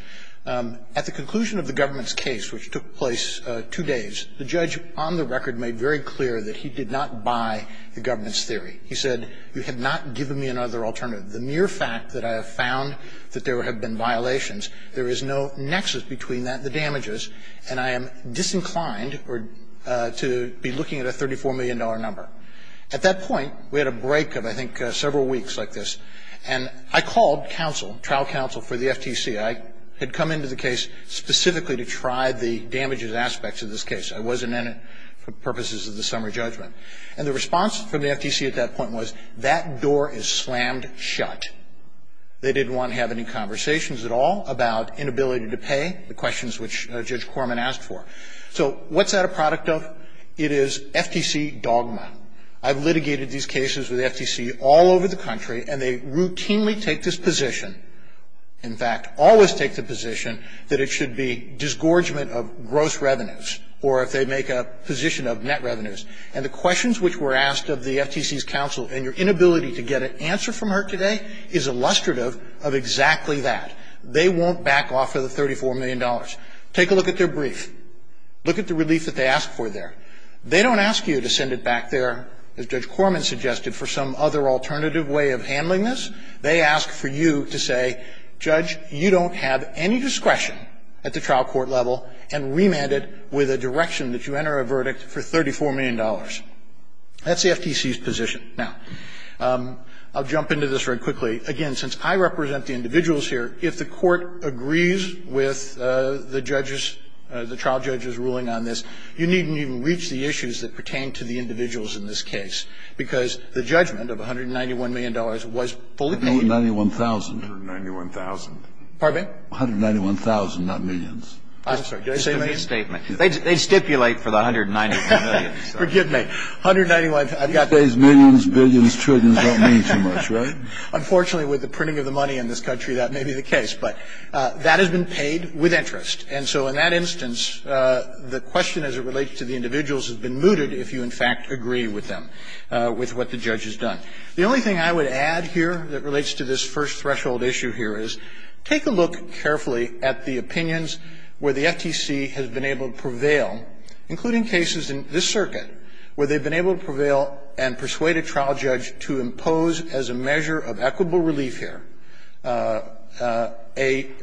At the conclusion of the government's case, which took place two days, the judge on the record made very clear that he did not buy the government's theory. He said, you have not given me another alternative. The mere fact that I have found that there have been violations, there is no nexus between that and the damages, and I am disinclined to be looking at a $34 million number. At that point, we had a break of, I think, several weeks like this. And I called counsel, trial counsel for the FTC. I had come into the case specifically to try the damages aspects of this case. I wasn't in it for purposes of the summary judgment. And the response from the FTC at that point was, that door is slammed shut. They didn't want to have any conversations at all about inability to pay, the questions which Judge Corman asked for. So what's that a product of? It is FTC dogma. I've litigated these cases with FTC all over the country, and they routinely take this position. In fact, always take the position that it should be disgorgement of gross revenues or if they make a position of net revenues. And the questions which were asked of the FTC's counsel and your inability to get an answer from her today is illustrative of exactly that. They won't back off of the $34 million. Take a look at their brief. Look at the relief that they asked for there. They don't ask you to send it back there, as Judge Corman suggested, for some other alternative way of handling this. They ask for you to say, Judge, you don't have any discretion at the trial court level and remand it with a direction that you enter a verdict for $34 million. That's the FTC's position. Now, I'll jump into this very quickly. Again, since I represent the individuals here, if the Court agrees with the judges or the trial judges' ruling on this, you needn't even reach the issues that pertain to the individuals in this case, because the judgment of $191 million was fully paid. Kennedy, $191,000. $191,000. Pardon me? $191,000, not millions. I'm sorry. Did I say millions? They stipulate for the $191 million. Forgive me. $191. I've got that. You say millions, billions, trillions don't mean too much, right? Unfortunately, with the printing of the money in this country, that may be the case. But that has been paid with interest. And so in that instance, the question as it relates to the individuals has been mooted if you, in fact, agree with them, with what the judge has done. The only thing I would add here that relates to this first threshold issue here is take a look carefully at the opinions where the FTC has been able to prevail, including cases in this circuit where they've been able to prevail and persuade a trial judge to impose as a measure of equitable relief here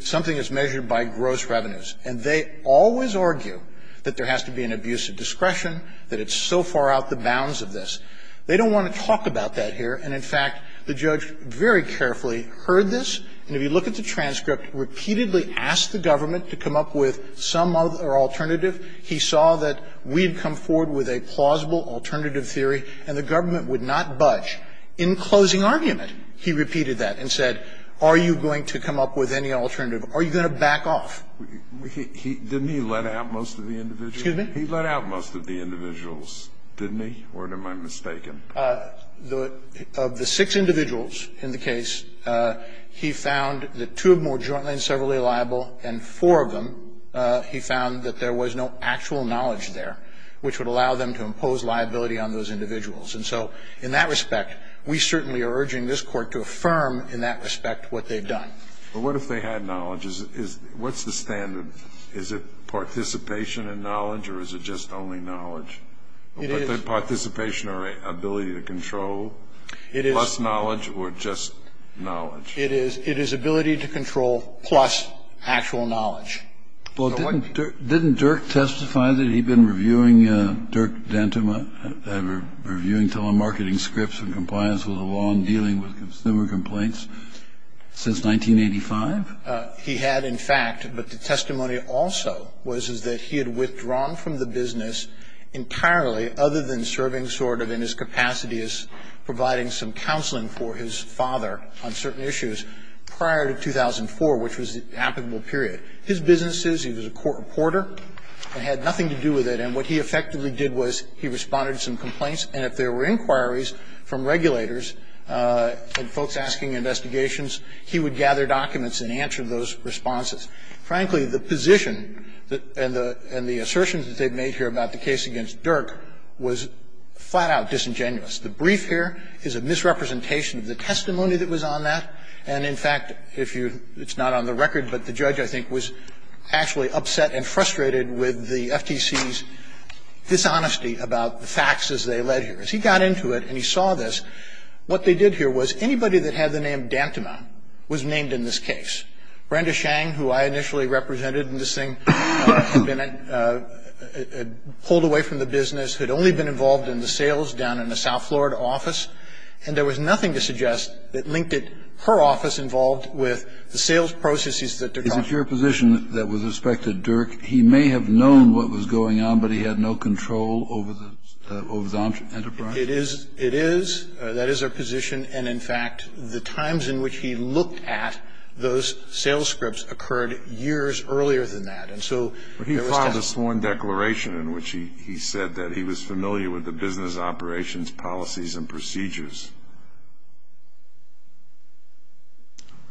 something as measured by gross revenues. And they always argue that there has to be an abuse of discretion, that it's so far out of the bounds of this. They don't want to talk about that here. And, in fact, the judge very carefully heard this. And if you look at the transcript, repeatedly asked the government to come up with some alternative. He saw that we had come forward with a plausible alternative theory, and the government would not budge. In closing argument, he repeated that and said, are you going to come up with any alternative? Are you going to back off? Didn't he let out most of the individuals? He let out most of the individuals, didn't he? Or am I mistaken? Of the six individuals in the case, he found that two of them were jointly and severally liable, and four of them he found that there was no actual knowledge there which would allow them to impose liability on those individuals. And so in that respect, we certainly are urging this Court to affirm in that respect what they've done. But what if they had knowledge? What's the standard? Is it participation in knowledge, or is it just only knowledge? It is. Participation or ability to control, plus knowledge or just knowledge? It is ability to control plus actual knowledge. Well, didn't Dirk testify that he'd been reviewing Dirk Dentema, reviewing telemarketing scripts and compliance with the law and dealing with consumer complaints since 1985? He had, in fact. But the testimony also was that he had withdrawn from the business entirely, other than serving sort of in his capacity as providing some counseling for his father on certain issues prior to 2004, which was the applicable period. His businesses, he was a court reporter and had nothing to do with it. And what he effectively did was he responded to some complaints. And if there were inquiries from regulators and folks asking investigations, he would gather documents and answer those responses. Frankly, the position and the assertions that they've made here about the case against Dirk was flat-out disingenuous. The brief here is a misrepresentation of the testimony that was on that. And, in fact, if you – it's not on the record, but the judge, I think, was actually upset and frustrated with the FTC's dishonesty about the facts as they led here. As he got into it and he saw this, what they did here was anybody that had the name Dentema was named in this case. Brenda Shang, who I initially represented in this thing, had been – had pulled away from the business, had only been involved in the sales down in the South Florida office, and there was nothing to suggest that linked her office involved with the sales processes that they're talking about. Now, if you're in a position that was expected, Dirk, he may have known what was going on, but he had no control over the – over the enterprise? It is. It is. That is our position. And, in fact, the times in which he looked at those sales scripts occurred years earlier than that. And so there was doubt. But he filed a sworn declaration in which he said that he was familiar with the business operations policies and procedures.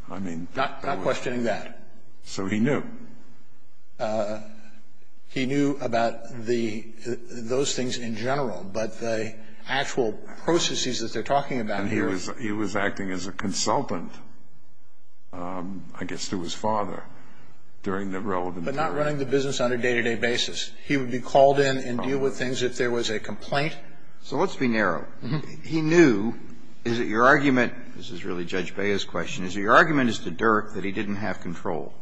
I mean – Not questioning that. So he knew. He knew about the – those things in general, but the actual processes that they're talking about here – And he was – he was acting as a consultant, I guess, to his father during the relevant period. But not running the business on a day-to-day basis. He would be called in and deal with things if there was a complaint. So let's be narrow. He knew. Is it your argument – this is really Judge Bea's question – is it your argument as to Dirk that he didn't have control?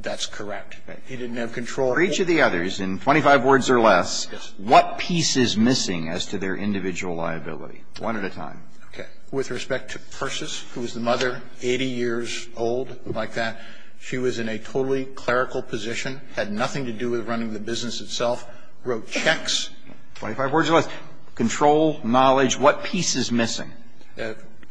That's correct. He didn't have control. For each of the others, in 25 words or less, what piece is missing as to their individual liability? One at a time. Okay. With respect to Persis, who was the mother, 80 years old, like that, she was in a totally clerical position, had nothing to do with running the business itself, wrote checks. 25 words or less. Control, knowledge. What piece is missing?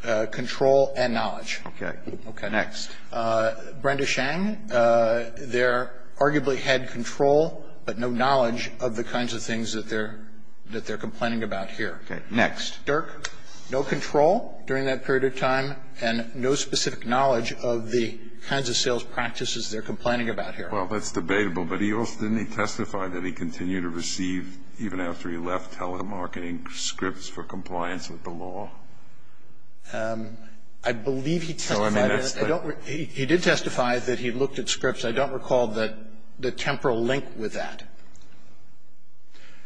Control and knowledge. Okay. Okay. Next. Brenda Shang, there arguably had control, but no knowledge of the kinds of things that they're – that they're complaining about here. Okay. Next. Dirk, no control during that period of time and no specific knowledge of the kinds of sales practices they're complaining about here. Well, that's debatable. But he also – didn't he testify that he continued to receive, even after he left, telemarketing scripts for compliance with the law? I believe he testified. I don't – he did testify that he looked at scripts. I don't recall the temporal link with that.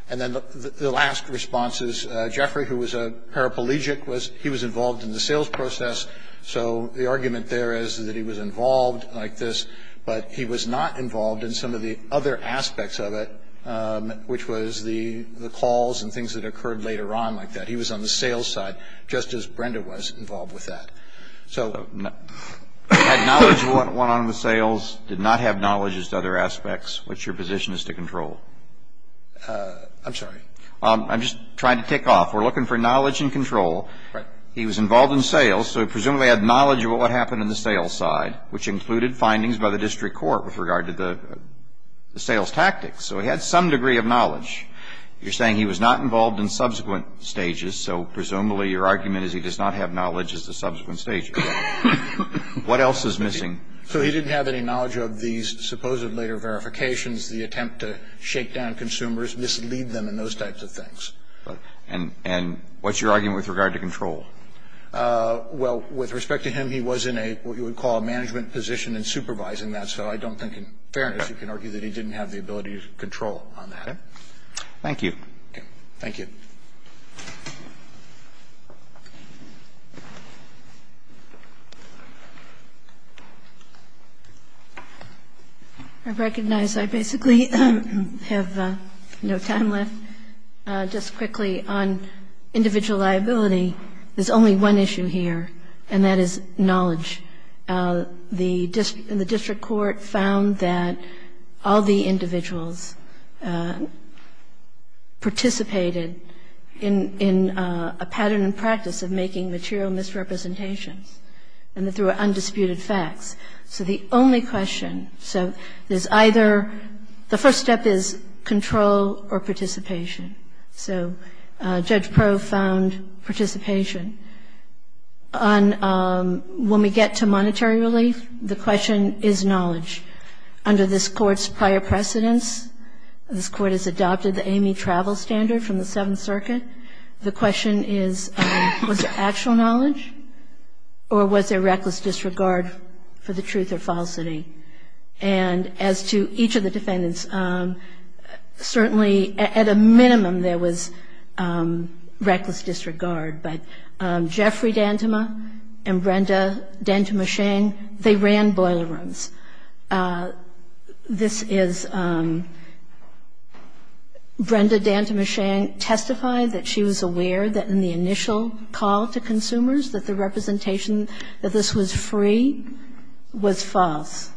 And then the last response is Jeffrey, who was a paraplegic, was – he was involved in the sales process, so the argument there is that he was involved like this, but he was not involved in some of the other aspects of it, which was the calls and things that occurred later on like that. He was on the sales side, just as Brenda was involved with that. So – Had knowledge of what went on in the sales, did not have knowledge as to other aspects, what's your position as to control? I'm sorry? I'm just trying to tick off. We're looking for knowledge and control. Right. He was involved in sales, so presumably had knowledge of what happened in the sales side, which included findings by the district court with regard to the sales tactics. So he had some degree of knowledge. You're saying he was not involved in subsequent stages, so presumably your argument is he does not have knowledge as to subsequent stages. What else is missing? So he didn't have any knowledge of these supposed later verifications, the attempt to shake down consumers, mislead them, and those types of things. And what's your argument with regard to control? Well, with respect to him, he was in a what you would call a management position in supervising that, so I don't think in fairness you can argue that he didn't have the ability to control on that. Thank you. Thank you. I recognize I basically have no time left. Just quickly, on individual liability, there's only one issue here, and that is knowledge. The district court found that all the individuals participated in a pattern and practice of making material misrepresentations and that there were undisputed facts. So the only question, so there's either the first step is control or participation. So Judge Pro found participation. When we get to monetary relief, the question is knowledge. Under this Court's prior precedence, this Court has adopted the AME travel standard from the Seventh Circuit. The question is, was there actual knowledge, or was there reckless disregard for the truth or falsity? And as to each of the defendants, certainly at a minimum there was reckless disregard, but Jeffrey Dantema and Brenda Dantema-Shang, they ran boiler rooms. This is Brenda Dantema-Shang testifying that she was aware that in the initial call to consumers that the representation that this was free was false.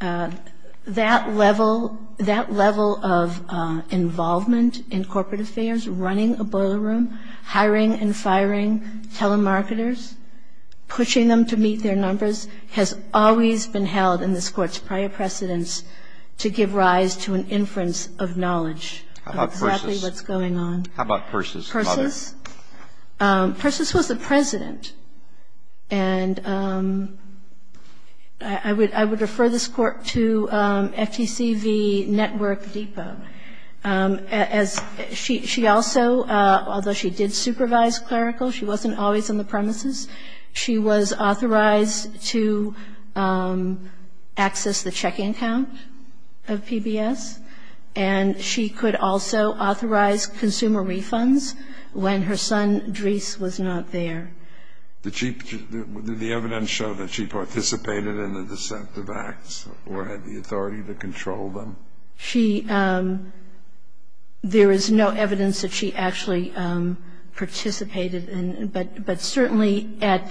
That level of involvement in corporate affairs, running a boiler room, hiring and firing telemarketers, pushing them to meet their numbers, has always been held in this Court's prior precedence to give rise to an inference of knowledge of exactly what's going on. How about Persis? Persis? Persis was the President, and I would refer this Court to FTCV Network Depot. As she also, although she did supervise clerical, she wasn't always on the premises. She was authorized to access the check-in count of PBS, and she could also authorize consumer refunds when her son Dries was not there. Did she – did the evidence show that she participated in the dissent of acts or had the authority to control them? No. She – there is no evidence that she actually participated in, but certainly at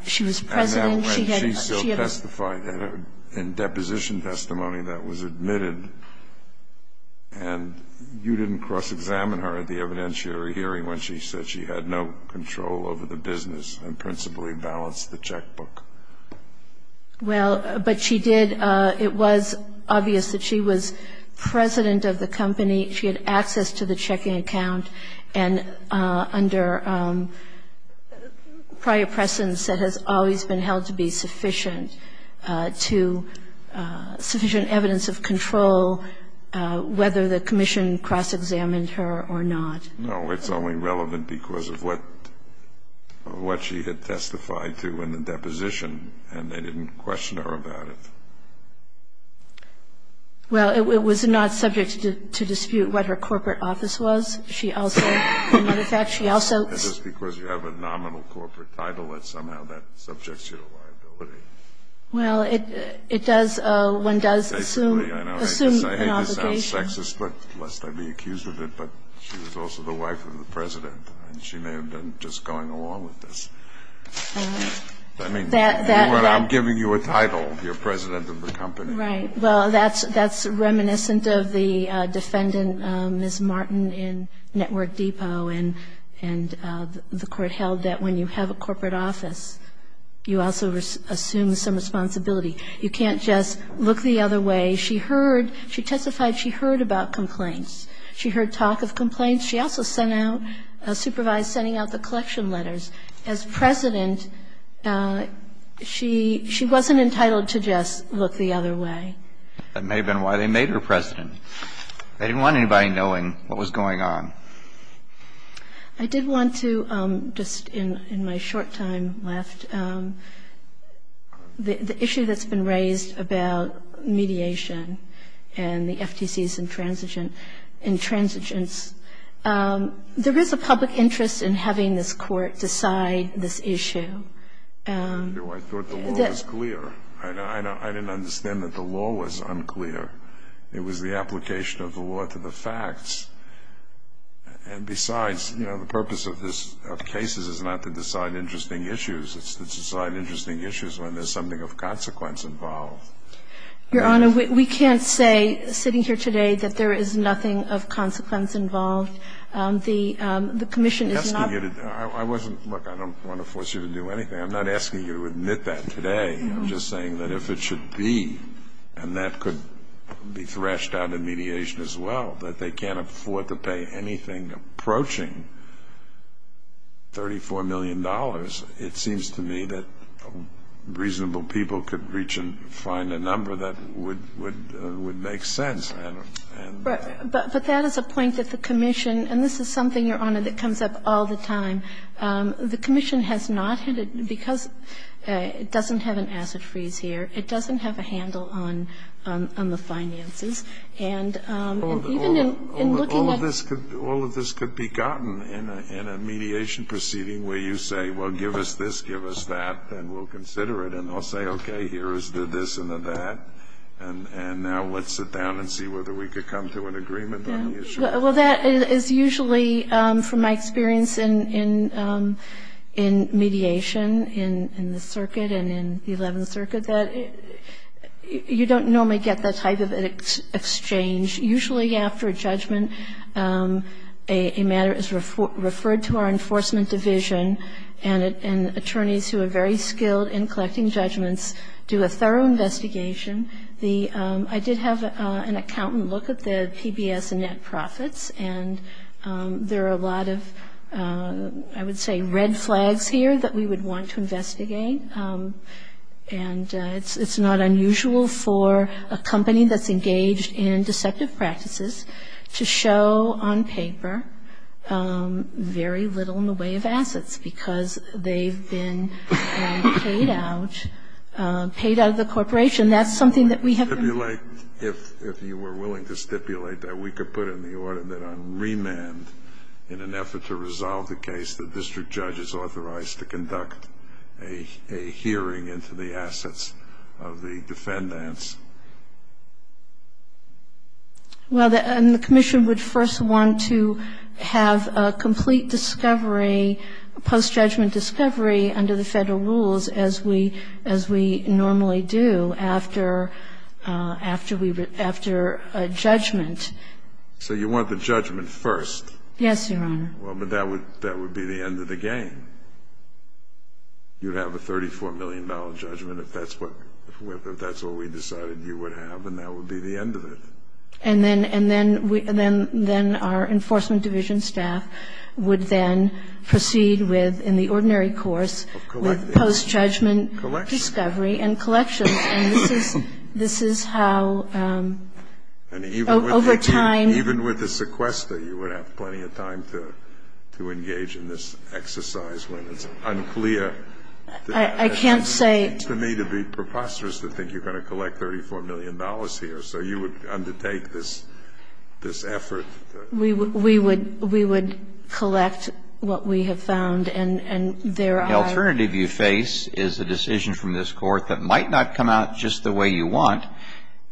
– she was President, she had – At that point, she still testified in deposition testimony that was admitted, and you didn't cross-examine her at the evidentiary hearing when she said she had no control over the business and principally balanced the checkbook. Well, but she did – it was obvious that she was President of the company. She had access to the check-in account, and under prior precedence, that has always been held to be sufficient to – sufficient evidence of control whether the commission cross-examined her or not. No, it's only relevant because of what she had testified to in the deposition, and they didn't question her about it. Well, it was not subject to dispute what her corporate office was. She also – as a matter of fact, she also – Is this because you have a nominal corporate title that somehow that subjects you to liability? Well, it does – one does assume an obligation. I hate to sound sexist, but – lest I be accused of it, but she was also the wife of the President, and she may have been just going along with this. I mean, I'm giving you a title, you're President of the company. Right. Well, that's reminiscent of the defendant, Ms. Martin, in Network Depot, and the Court held that when you have a corporate office, you also assume some responsibility. You can't just look the other way. She heard – she testified she heard about complaints. She heard talk of complaints. She also sent out – supervised sending out the collection letters. As President, she wasn't entitled to just look the other way. That may have been why they made her President. They didn't want anybody knowing what was going on. I did want to, just in my short time left, the issue that's been raised about mediation and the FTC's intransigence, there is a public interest in having this Court decide this issue. I thought the law was clear. I didn't understand that the law was unclear. It was the application of the law to the facts. And besides, you know, the purpose of cases is not to decide interesting issues. It's to decide interesting issues when there's something of consequence involved. Your Honor, we can't say, sitting here today, that there is nothing of consequence involved. The commission is not – I wasn't – look, I don't want to force you to do anything. I'm not asking you to admit that today. I'm just saying that if it should be, and that could be thrashed out in mediation as well, that they can't afford to pay anything approaching $34 million. It seems to me that reasonable people could reach and find a number that would make sense. But that is a point that the commission – and this is something, Your Honor, that comes up all the time. The commission has not – because it doesn't have an asset freeze here, it doesn't have a handle on the finances. And even in looking at – All of this could be gotten in a mediation proceeding where you say, well, give us this, give us that, and we'll consider it. And they'll say, okay, here is the this and the that, and now let's sit down and see whether we could come to an agreement on the issue. Well, that is usually, from my experience in mediation in the circuit and in the 11th Circuit, that you don't normally get that type of exchange. Usually after a judgment, a matter is referred to our enforcement division, and attorneys who are very skilled in collecting judgments do a thorough investigation. I did have an accountant look at the PBS and Net Profits, and there are a lot of, I would say, red flags here that we would want to investigate. And it's not unusual for a company that's engaged in deceptive practices to show on paper very little in the way of assets because they've been paid out of the corporation. That's something that we have been – If you were willing to stipulate that, we could put it in the order that on remand in an effort to resolve the case, the district judge is authorized to conduct a hearing into the assets of the defendants. Well, and the commission would first want to have a complete discovery, a post-judgment discovery under the Federal rules as we normally do after a judgment. So you want the judgment first? Yes, Your Honor. Well, but that would be the end of the game. You would have a $34 million judgment if that's what we decided to do. You would have, and that would be the end of it. And then our Enforcement Division staff would then proceed with, in the ordinary course, with post-judgment discovery and collection. And this is how, over time – Even with a sequester, you would have plenty of time to engage in this exercise when it's unclear. I can't say – It seems to me to be preposterous to think you're going to collect $34 million here, so you would undertake this effort. We would collect what we have found, and there are – The alternative you face is a decision from this Court that might not come out just the way you want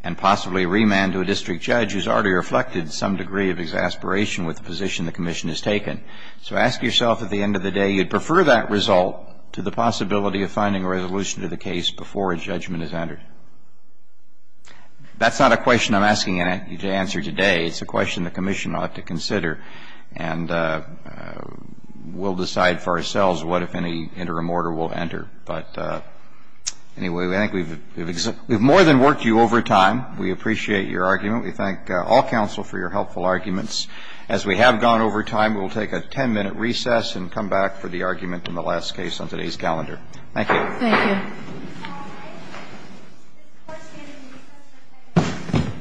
and possibly remand to a district judge who's already reflected some degree of exasperation with the position the commission has taken. So ask yourself at the end of the day, do you prefer that result to the possibility of finding a resolution to the case before a judgment is entered? That's not a question I'm asking you to answer today. It's a question the commission ought to consider, and we'll decide for ourselves what, if any, interim order we'll enter. But anyway, I think we've – We've more than worked you over time. We appreciate your argument. We thank all counsel for your helpful arguments. As we have gone over time, we'll take a 10-minute recess and come back for the argument in the last case on today's calendar. Thank you. Thank you.